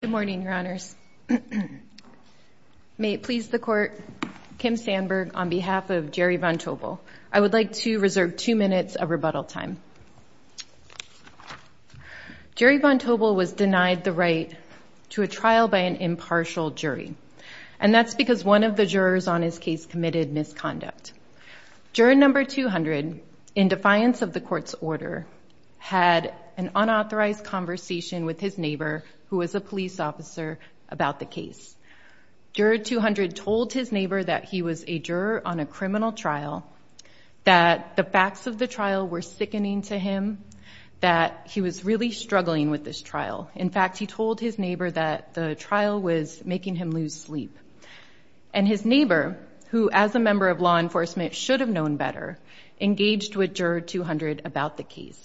Good morning, your honors. May it please the court, Kim Sandberg, on behalf of Jerry Von Tobel, I would like to reserve two minutes of rebuttal time. Jerry Von Tobel was denied the right to a trial by an impartial jury, and that's because one of the jurors on his case committed misconduct. Juror number 200, in defiance of the court's order, had an unauthorized conversation with his neighbor, who was a police officer, about the case. Juror 200 told his neighbor that he was a juror on a criminal trial, that the facts of the trial were sickening to him, that he was really struggling with this trial. In fact, he told his neighbor that the trial was making him lose sleep, and his neighbor, who, as a member of law enforcement, should have known better, engaged with juror 200 about the case.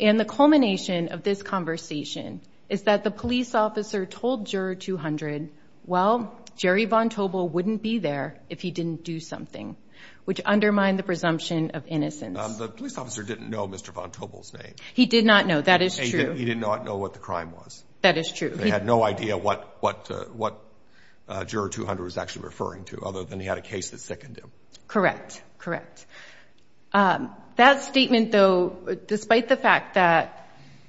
And the culmination of this conversation is that the police officer told juror 200, well, Jerry Von Tobel wouldn't be there if he didn't do something, which undermined the presumption of innocence. The police officer didn't know Mr. Von Tobel's name. He did not know. That is true. He did not know what the crime was. That is true. They had no idea what juror 200 was actually referring to, other than he had a case that sickened him. Correct, correct. That statement, though, despite the fact that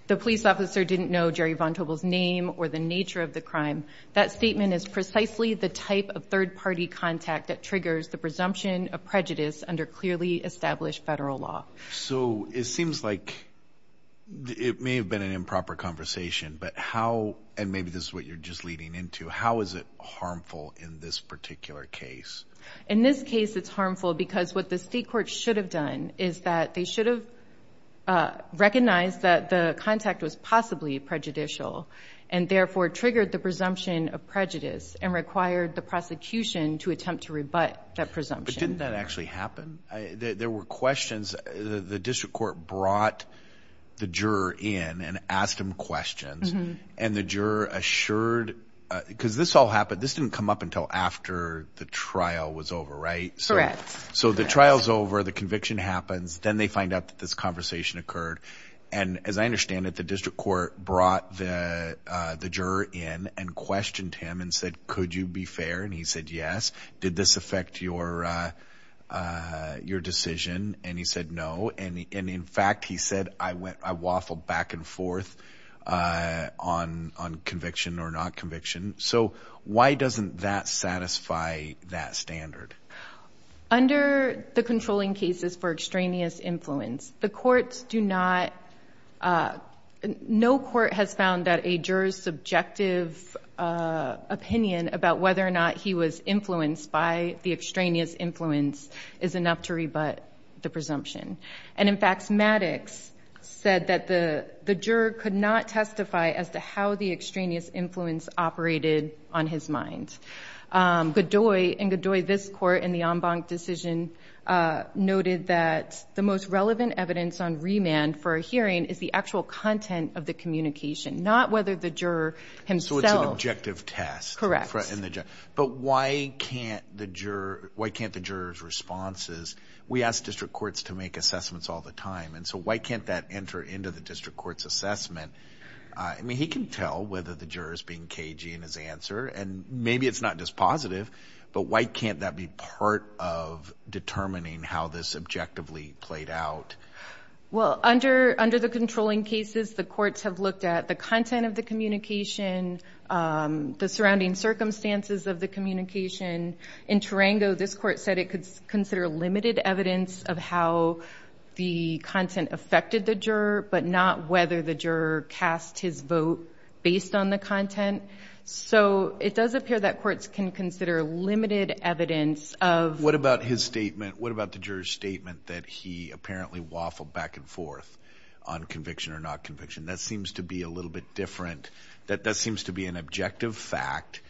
the police officer didn't know Jerry Von Tobel's name or the nature of the crime, that statement is precisely the type of third-party contact that triggers the presumption of prejudice under clearly established federal law. So it seems like it may have been an improper conversation, but how, and maybe this is what you're just leading into, how is it harmful in this particular case? In this case, it's harmful because what the state court should have done is that they should have recognized that the contact was possibly prejudicial and, therefore, triggered the presumption of prejudice and required the prosecution to attempt to rebut that presumption. But didn't that actually happen? There were questions. The district court brought the juror in and asked him questions, and the juror assured, because this all happened, this didn't come up until after the trial was over, right? Correct. So the trial's over, the conviction happens, then they find out that this conversation occurred. And as I understand it, the district court brought the juror in and questioned him and said, could you be fair? And he said, yes. Did this affect your decision? And he said, no. And in fact, he said, I waffled back and forth on conviction or not conviction. So why doesn't that satisfy that standard? Under the controlling cases for extraneous influence, the courts do not, no court has found that a juror's subjective opinion about whether or not he was influenced by the extraneous influence is enough to rebut the presumption. And in fact, Maddox said that the juror could not testify as to how the extraneous influence operated on his mind. In Godoy, this court in the en banc decision noted that the most relevant evidence on remand for a hearing is the actual content of the communication, not whether the juror himself. So it's an objective test. Correct. But why can't the juror's responses, we ask district courts to make assessments all the time, and so why can't that enter into the district court's assessment? I mean, he can tell whether the juror's being cagey in his answer, and maybe it's not just positive, but why can't that be part of determining how this objectively played out? Well, under the controlling cases, the courts have looked at the content of the communication, the surrounding circumstances of the communication. In Tarango, this court said it could consider limited evidence of how the content affected the juror, but not whether the juror cast his vote based on the content. So it does appear that courts can consider limited evidence of. What about his statement? What about the juror's statement that he apparently waffled back and forth on conviction or not conviction? That seems to be a little bit different. That seems to be an objective fact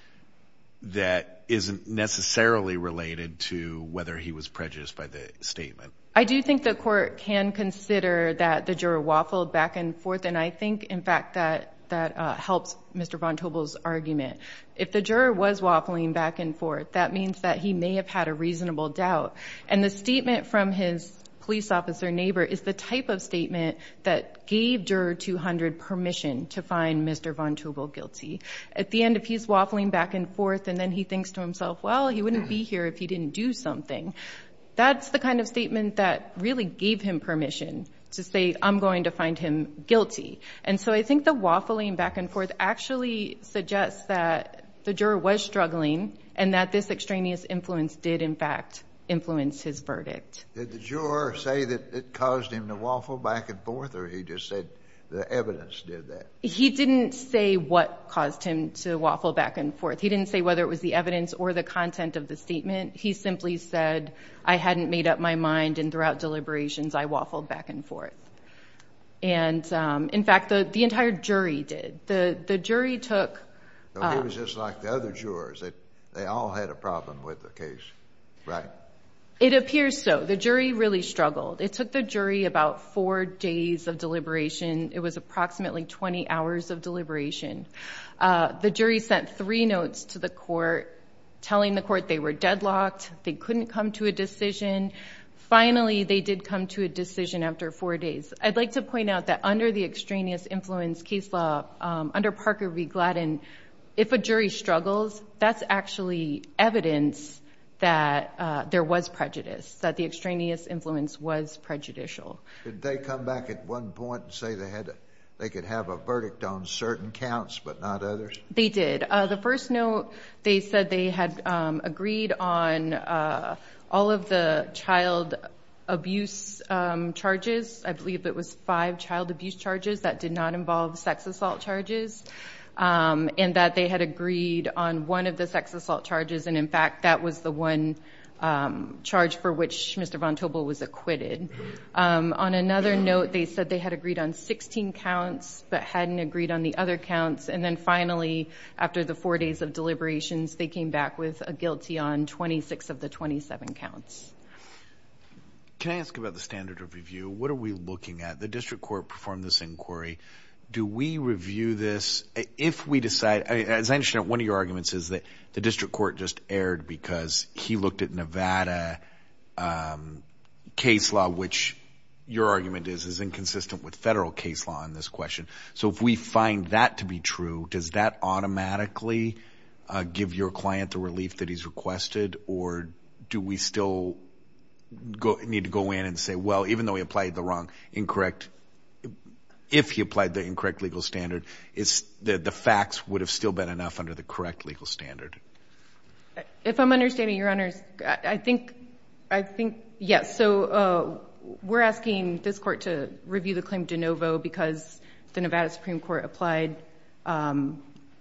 that isn't necessarily related to whether he was prejudiced by the statement. I do think the court can consider that the juror waffled back and forth, and I think, in fact, that that helps Mr. Vontobel's argument. If the juror was waffling back and forth, that means that he may have had a reasonable doubt. And the statement from his police officer neighbor is the type of statement that gave Juror 200 permission to find Mr. Vontobel guilty. At the end, if he's waffling back and forth and then he thinks to himself, well, he wouldn't be here if he didn't do something, that's the kind of statement that really gave him permission to say, I'm going to find him guilty. And so I think the waffling back and forth actually suggests that the juror was struggling and that this extraneous influence did, in fact, influence his verdict. Did the juror say that it caused him to waffle back and forth or he just said the evidence did that? He didn't say what caused him to waffle back and forth. He didn't say whether it was the evidence or the content of the statement. He simply said, I hadn't made up my mind and throughout deliberations I waffled back and forth. And, in fact, the entire jury did. The jury took- It was just like the other jurors. They all had a problem with the case, right? It appears so. The jury really struggled. It took the jury about four days of deliberation. It was approximately 20 hours of deliberation. The jury sent three notes to the court telling the court they were deadlocked, they couldn't come to a decision. Finally, they did come to a decision after four days. I'd like to point out that under the extraneous influence case law, under Parker v. Gladden, if a jury struggles, that's actually evidence that there was prejudice, that the extraneous influence was prejudicial. Did they come back at one point and say they could have a verdict on certain counts but not others? They did. The first note, they said they had agreed on all of the child abuse charges. I believe it was five child abuse charges that did not involve sex assault charges and that they had agreed on one of the sex assault charges. And, in fact, that was the one charge for which Mr. Vontobel was acquitted. On another note, they said they had agreed on 16 counts but hadn't agreed on the other counts. And then, finally, after the four days of deliberations, they came back with a guilty on 26 of the 27 counts. Can I ask about the standard of review? What are we looking at? The district court performed this inquiry. Do we review this if we decide – as I understand, one of your arguments is that the district court just erred because he looked at Nevada case law, which your argument is is inconsistent with federal case law in this question. So if we find that to be true, does that automatically give your client the relief that he's requested, or do we still need to go in and say, well, even though he applied the wrong, incorrect – if he applied the incorrect legal standard, the facts would have still been enough under the correct legal standard? If I'm understanding your honors, I think, yes. So we're asking this court to review the claim de novo because the Nevada Supreme Court applied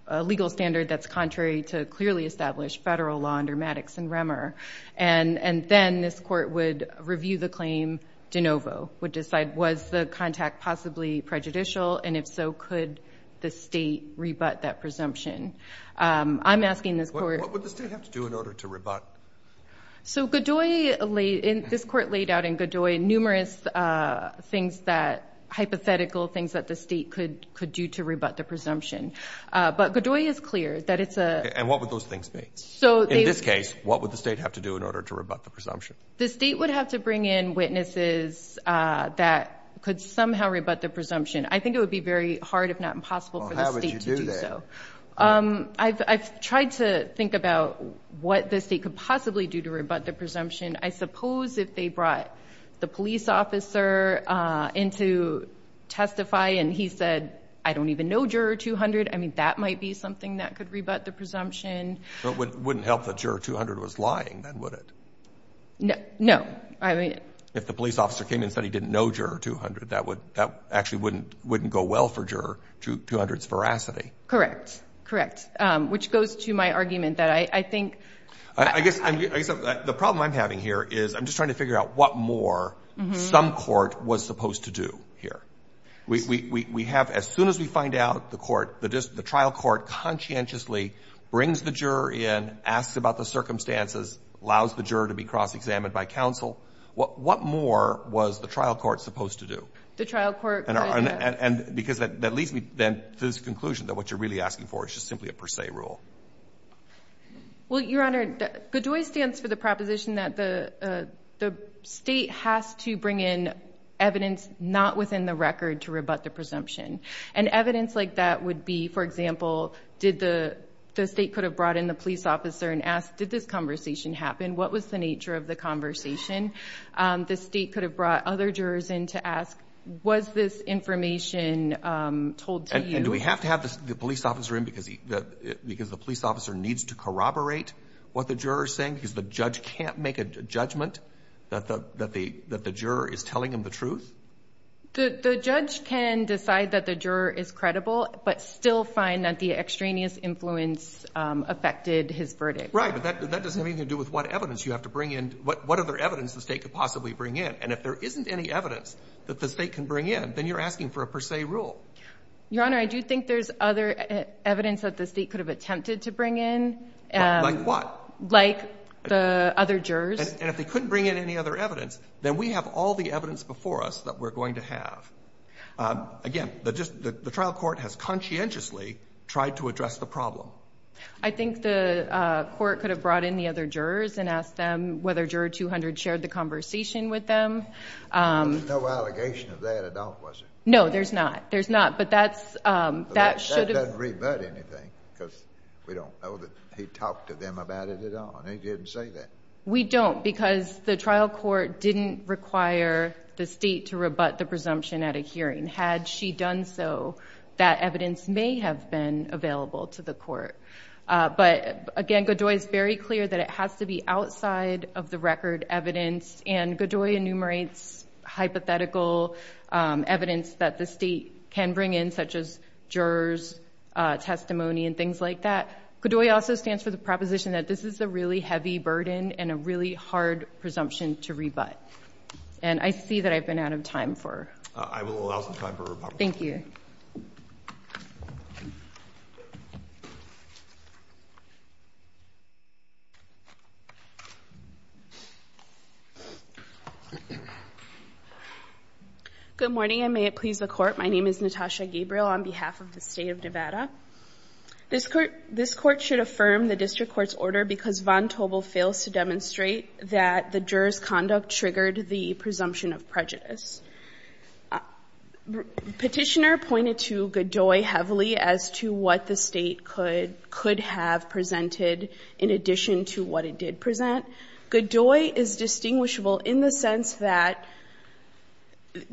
a legal standard that's contrary to clearly established federal law under Maddox and Remmer. And then this court would review the claim de novo, would decide was the contact possibly prejudicial, and if so, could the state rebut that presumption? I'm asking this court – So Godoy – this court laid out in Godoy numerous things that – hypothetical things that the state could do to rebut the presumption. But Godoy is clear that it's a – And what would those things be? In this case, what would the state have to do in order to rebut the presumption? The state would have to bring in witnesses that could somehow rebut the presumption. I think it would be very hard, if not impossible, for the state to do so. Well, how would you do that? I've tried to think about what the state could possibly do to rebut the presumption. I suppose if they brought the police officer in to testify and he said, I don't even know Juror 200, I mean, that might be something that could rebut the presumption. But it wouldn't help that Juror 200 was lying, then, would it? No. If the police officer came and said he didn't know Juror 200, that actually wouldn't go well for Juror 200's veracity. Correct, correct, which goes to my argument that I think – I guess the problem I'm having here is I'm just trying to figure out what more some court was supposed to do here. We have – as soon as we find out the trial court conscientiously brings the juror in, asks about the circumstances, allows the juror to be cross-examined by counsel, what more was the trial court supposed to do? The trial court – Because that leads me then to this conclusion that what you're really asking for is just simply a per se rule. Well, Your Honor, GDOI stands for the proposition that the state has to bring in evidence not within the record to rebut the presumption. And evidence like that would be, for example, did the – the state could have brought in the police officer and asked, did this conversation happen? What was the nature of the conversation? The state could have brought other jurors in to ask, was this information told to you? And do we have to have the police officer in because the police officer needs to corroborate what the juror is saying because the judge can't make a judgment that the juror is telling him the truth? The judge can decide that the juror is credible but still find that the extraneous influence affected his verdict. Right, but that doesn't have anything to do with what evidence you have to bring in. What other evidence the state could possibly bring in? And if there isn't any evidence that the state can bring in, then you're asking for a per se rule. Your Honor, I do think there's other evidence that the state could have attempted to bring in. Like what? Like the other jurors. And if they couldn't bring in any other evidence, then we have all the evidence before us that we're going to have. I think the court could have brought in the other jurors and asked them whether Juror 200 shared the conversation with them. There's no allegation of that at all, was there? No, there's not. There's not, but that should have... That doesn't rebut anything because we don't know that he talked to them about it at all and he didn't say that. We don't because the trial court didn't require the state to rebut the presumption at a hearing. And had she done so, that evidence may have been available to the court. But again, Godoy is very clear that it has to be outside of the record evidence. And Godoy enumerates hypothetical evidence that the state can bring in, such as jurors' testimony and things like that. Godoy also stands for the proposition that this is a really heavy burden and a really hard presumption to rebut. And I see that I've been out of time for... I will allow some time for rebuttal. Thank you. Good morning, and may it please the Court. My name is Natasha Gabriel on behalf of the State of Nevada. This Court should affirm the district court's order because von Tobel fails to demonstrate that the juror's conduct triggered the presumption of prejudice. Petitioner pointed to Godoy heavily as to what the state could have presented in addition to what it did present. Godoy is distinguishable in the sense that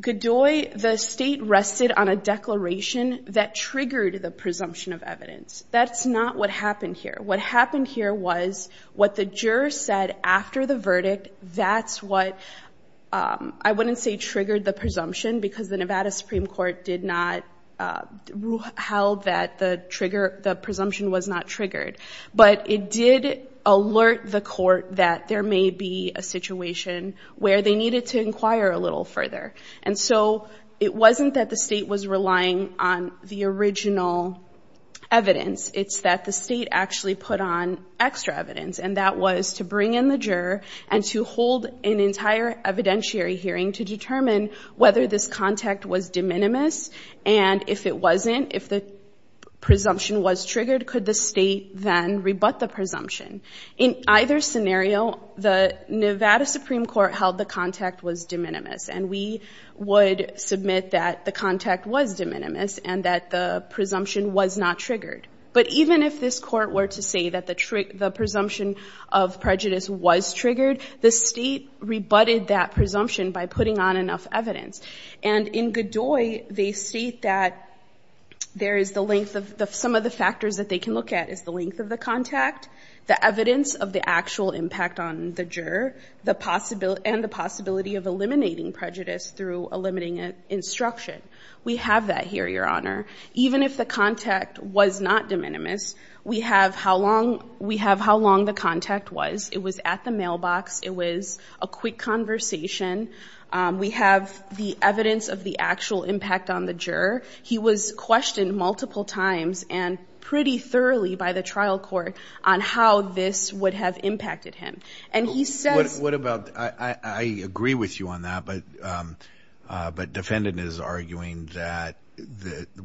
Godoy, the state rested on a declaration that triggered the presumption of evidence. That's not what happened here. What happened here was what the juror said after the verdict, I wouldn't say triggered the presumption because the Nevada Supreme Court held that the presumption was not triggered. But it did alert the court that there may be a situation where they needed to inquire a little further. And so it wasn't that the state was relying on the original evidence. It's that the state actually put on extra evidence. And that was to bring in the juror and to hold an entire evidentiary hearing to determine whether this contact was de minimis. And if it wasn't, if the presumption was triggered, could the state then rebut the presumption? In either scenario, the Nevada Supreme Court held the contact was de minimis. And we would submit that the contact was de minimis and that the presumption was not triggered. But even if this court were to say that the presumption of prejudice was triggered, the state rebutted that presumption by putting on enough evidence. And in Godoy, they state that there is the length of some of the factors that they can look at is the length of the contact, the evidence of the actual impact on the juror, and the possibility of eliminating prejudice through eliminating instruction. We have that here, Your Honor. Even if the contact was not de minimis, we have how long the contact was. It was at the mailbox. It was a quick conversation. We have the evidence of the actual impact on the juror. He was questioned multiple times and pretty thoroughly by the trial court on how this would have impacted him. I agree with you on that, but defendant is arguing that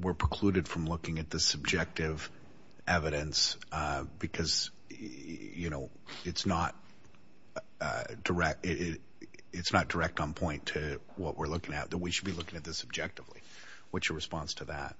we're precluded from looking at the subjective evidence because it's not direct on point to what we're looking at, that we should be looking at this objectively. What's your response to that?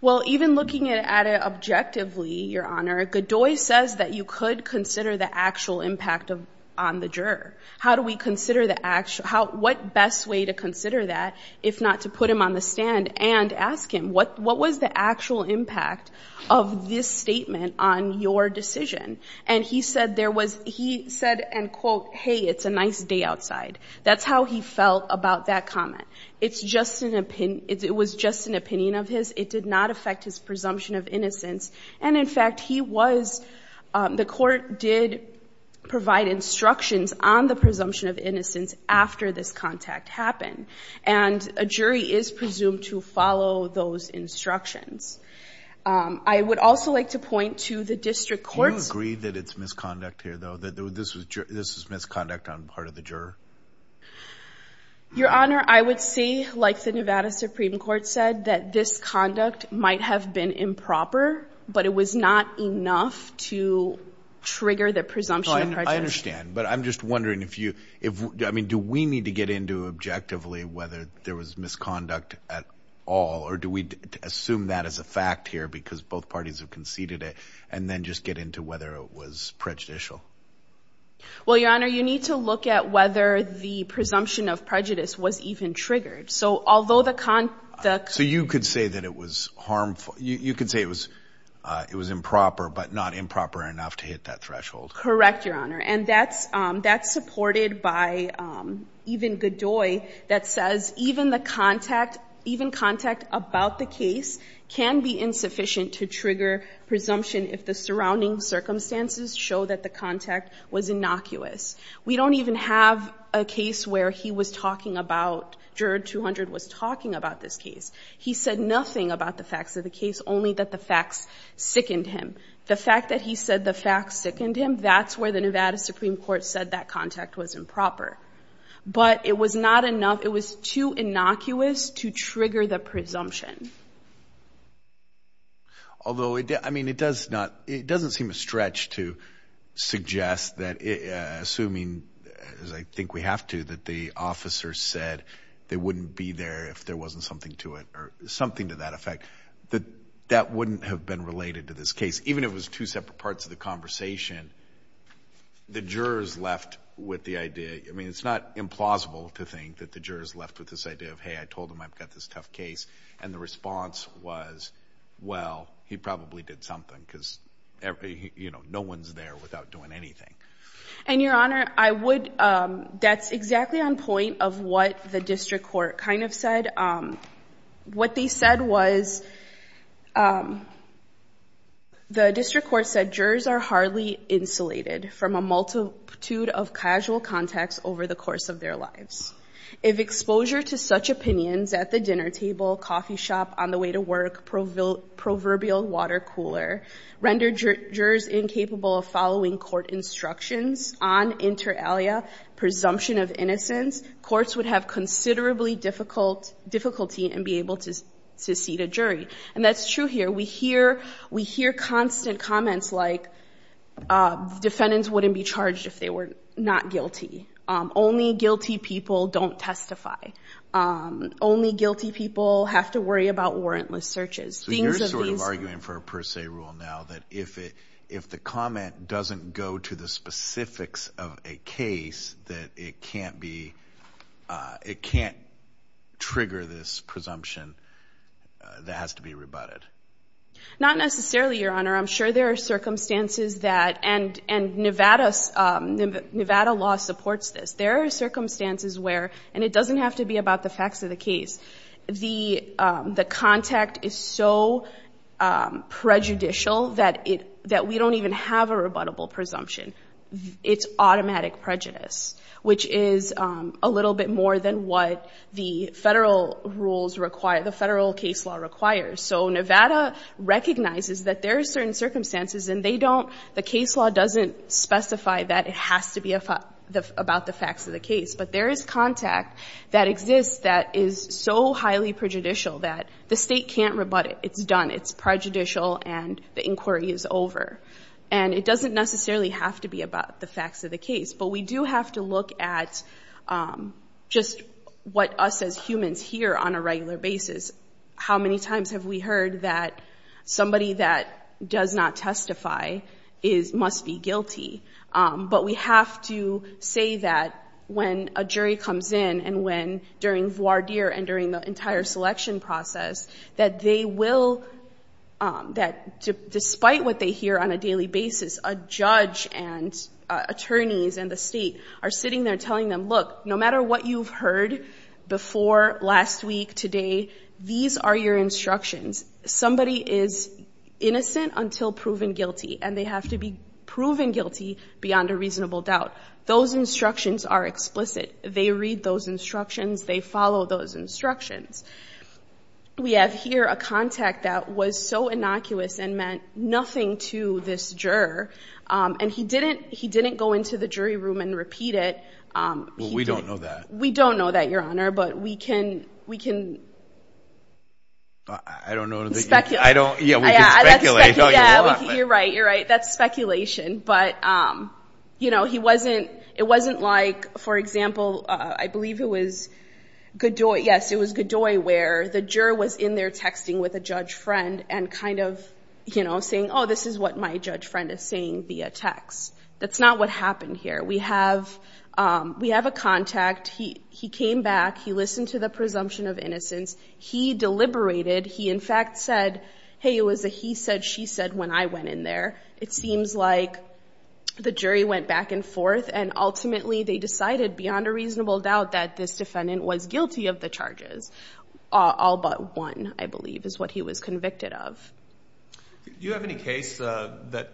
Well, even looking at it objectively, Your Honor, Godoy says that you could consider the actual impact on the juror. How do we consider the actual – what best way to consider that if not to put him on the stand and ask him, what was the actual impact of this statement on your decision? And he said there was – he said, and quote, hey, it's a nice day outside. That's how he felt about that comment. It's just an – it was just an opinion of his. It did not affect his presumption of innocence. And, in fact, he was – the court did provide instructions on the presumption of innocence after this contact happened. And a jury is presumed to follow those instructions. I would also like to point to the district court's – Do you agree that it's misconduct here, though, that this was misconduct on part of the juror? Your Honor, I would say, like the Nevada Supreme Court said, that this conduct might have been improper, but it was not enough to trigger the presumption of prejudice. I understand. But I'm just wondering if you – I mean, do we need to get into objectively whether there was misconduct at all, or do we assume that as a fact here because both parties have conceded it, and then just get into whether it was prejudicial? Well, Your Honor, you need to look at whether the presumption of prejudice was even triggered. So although the – So you could say that it was harmful – you could say it was improper, but not improper enough to hit that threshold. Correct, Your Honor. And that's supported by even Godoy that says even the contact – even contact about the case can be insufficient to trigger presumption if the surrounding circumstances show that the contact was innocuous. We don't even have a case where he was talking about – juror 200 was talking about this case. He said nothing about the facts of the case, only that the facts sickened him. The fact that he said the facts sickened him, that's where the Nevada Supreme Court said that contact was improper. But it was not enough – it was too innocuous to trigger the presumption. Although, I mean, it does not – it doesn't seem a stretch to suggest that – assuming, as I think we have to, that the officer said they wouldn't be there if there wasn't something to it or something to that effect, that that wouldn't have been related to this case. Even if it was two separate parts of the conversation, the jurors left with the idea – I mean, it's not implausible to think that the jurors left with this idea of, hey, I told him I've got this tough case, and the response was, well, he probably did something because, you know, no one's there without doing anything. And, Your Honor, I would – that's exactly on point of what the district court kind of said. What they said was – the district court said jurors are hardly insulated from a multitude of casual contacts over the course of their lives. If exposure to such opinions at the dinner table, coffee shop, on the way to work, proverbial water cooler rendered jurors incapable of following court instructions on inter alia presumption of innocence, courts would have considerably difficulty and be able to seat a jury. And that's true here. We hear constant comments like defendants wouldn't be charged if they were not guilty. Only guilty people don't testify. Only guilty people have to worry about warrantless searches. So you're sort of arguing for a per se rule now that if the comment doesn't go to the specifics of a case, that it can't be – it can't trigger this presumption, that has to be rebutted. Not necessarily, Your Honor. I'm sure there are circumstances that – and Nevada law supports this. There are circumstances where – and it doesn't have to be about the facts of the case. The contact is so prejudicial that we don't even have a rebuttable presumption. It's automatic prejudice, which is a little bit more than what the federal rules require, the federal case law requires. So Nevada recognizes that there are certain circumstances and they don't – the case law doesn't specify that it has to be about the facts of the case. But there is contact that exists that is so highly prejudicial that the state can't rebut it. It's done. It's prejudicial and the inquiry is over. And it doesn't necessarily have to be about the facts of the case. But we do have to look at just what us as humans hear on a regular basis. How many times have we heard that somebody that does not testify must be guilty? But we have to say that when a jury comes in and when – during voir dire and during the entire selection process, that they will – that despite what they hear on a daily basis, a judge and attorneys and the state are sitting there telling them, look, no matter what you've heard before, last week, today, these are your instructions. Somebody is innocent until proven guilty, and they have to be proven guilty beyond a reasonable doubt. Those instructions are explicit. They read those instructions. They follow those instructions. We have here a contact that was so innocuous and meant nothing to this juror, and he didn't go into the jury room and repeat it. Well, we don't know that. We don't know that, Your Honor, but we can – we can speculate. I don't know. Yeah, we can speculate. You're right. You're right. That's speculation. But, you know, he wasn't – it wasn't like, for example, I believe it was Godoy – yes, it was Godoy where the juror was in there texting with a judge friend and kind of, you know, saying, oh, this is what my judge friend is saying via text. That's not what happened here. We have a contact. He came back. He listened to the presumption of innocence. He deliberated. He, in fact, said, hey, it was a he said, she said when I went in there. It seems like the jury went back and forth, and ultimately they decided beyond a reasonable doubt that this defendant was guilty of the charges. All but one, I believe, is what he was convicted of. Do you have any case that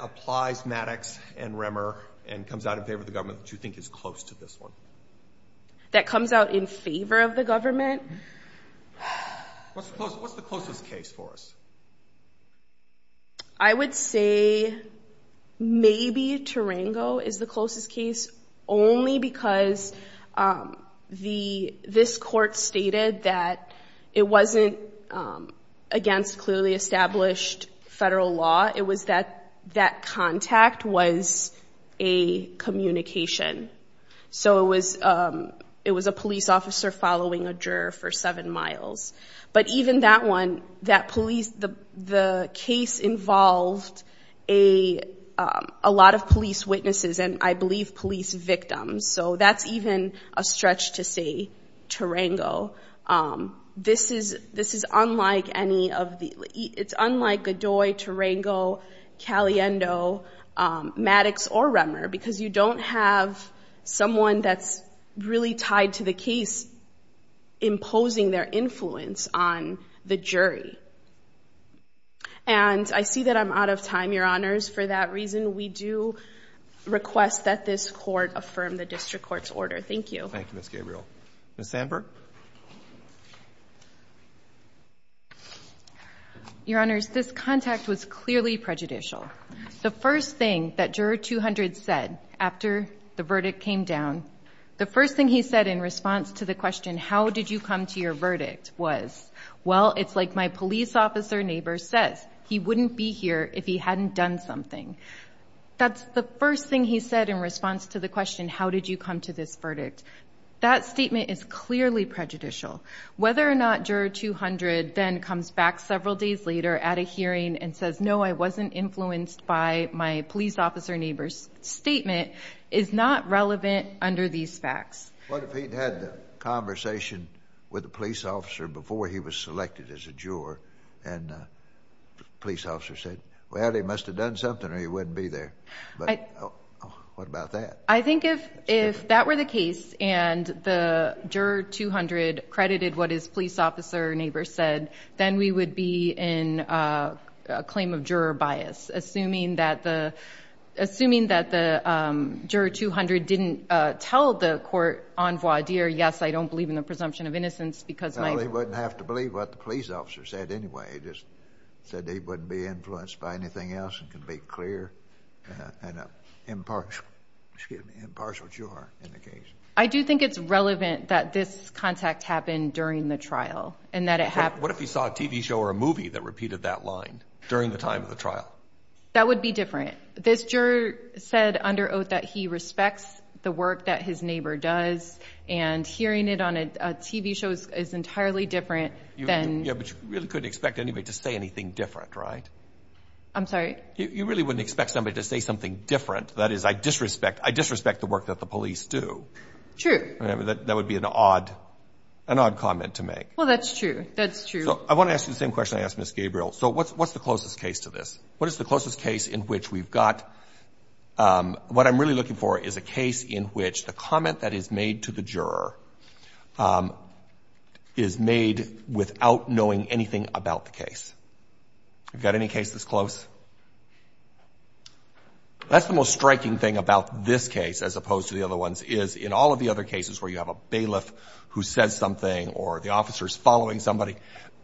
applies Maddox and Remmer and comes out in favor of the government that you think is close to this one? That comes out in favor of the government? What's the closest case for us? I would say maybe Tarango is the closest case only because this court stated that it wasn't against clearly established federal law. It was that that contact was a communication. So it was a police officer following a juror for seven miles. But even that one, that police, the case involved a lot of police witnesses and I believe police victims, so that's even a stretch to say Tarango. This is unlike any of the, it's unlike Godoy, Tarango, Caliendo, Maddox, or Remmer because you don't have someone that's really tied to the case imposing their influence. On the jury, and I see that I'm out of time, Your Honors. For that reason, we do request that this court affirm the district court's order. Thank you. Thank you, Ms. Gabriel. Ms. Sandberg. Your Honors, this contact was clearly prejudicial. The first thing that juror 200 said after the verdict came down, the first thing he said in response to the question, how did you come to your verdict was, well, it's like my police officer neighbor says, he wouldn't be here if he hadn't done something. That's the first thing he said in response to the question, how did you come to this verdict? That statement is clearly prejudicial. Whether or not juror 200 then comes back several days later at a hearing and says, no, I wasn't influenced by my police officer neighbor's statement is not relevant under these facts. What if he'd had the conversation with the police officer before he was selected as a juror and the police officer said, well, he must have done something or he wouldn't be there. What about that? I think if that were the case and the juror 200 credited what his police officer neighbor said, then we would be in a claim of juror bias, assuming that the juror 200 didn't tell the court on voir dire, yes, I don't believe in the presumption of innocence because my— Well, he wouldn't have to believe what the police officer said anyway. He just said he wouldn't be influenced by anything else and can be clear and impartial, excuse me, impartial juror in the case. I do think it's relevant that this contact happened during the trial and that it happened— That would be different. This juror said under oath that he respects the work that his neighbor does and hearing it on a TV show is entirely different than— Yeah, but you really couldn't expect anybody to say anything different, right? I'm sorry? You really wouldn't expect somebody to say something different. That is, I disrespect the work that the police do. True. That would be an odd comment to make. Well, that's true. That's true. I want to ask you the same question I asked Ms. Gabriel. So what's the closest case to this? What is the closest case in which we've got— what I'm really looking for is a case in which the comment that is made to the juror is made without knowing anything about the case. Have you got any cases close? That's the most striking thing about this case as opposed to the other ones is in all of the other cases where you have a bailiff who says something or the officer is following somebody,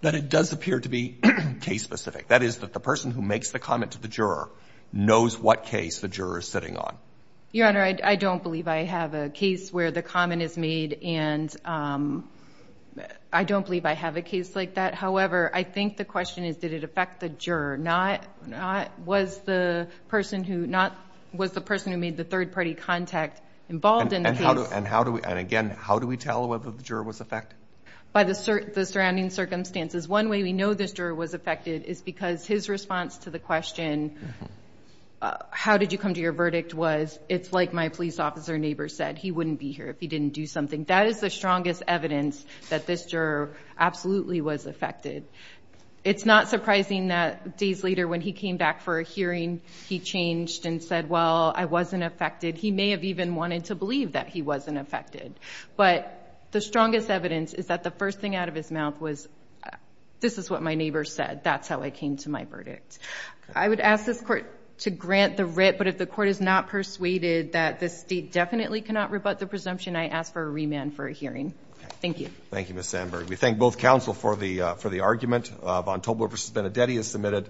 that it does appear to be case-specific. That is, that the person who makes the comment to the juror knows what case the juror is sitting on. Your Honor, I don't believe I have a case where the comment is made and I don't believe I have a case like that. However, I think the question is did it affect the juror, not was the person who made the third-party contact involved in the case. And again, how do we tell whether the juror was affected? By the surrounding circumstances. One way we know this juror was affected is because his response to the question, how did you come to your verdict, was it's like my police officer neighbor said. He wouldn't be here if he didn't do something. That is the strongest evidence that this juror absolutely was affected. It's not surprising that days later when he came back for a hearing, he changed and said, well, I wasn't affected. He may have even wanted to believe that he wasn't affected. But the strongest evidence is that the first thing out of his mouth was, this is what my neighbor said. That's how I came to my verdict. I would ask this Court to grant the writ, but if the Court is not persuaded that the State definitely cannot rebut the presumption, I ask for a remand for a hearing. Thank you. Thank you, Ms. Sandberg. We thank both counsel for the argument. Von Tobler v. Benedetti is submitted.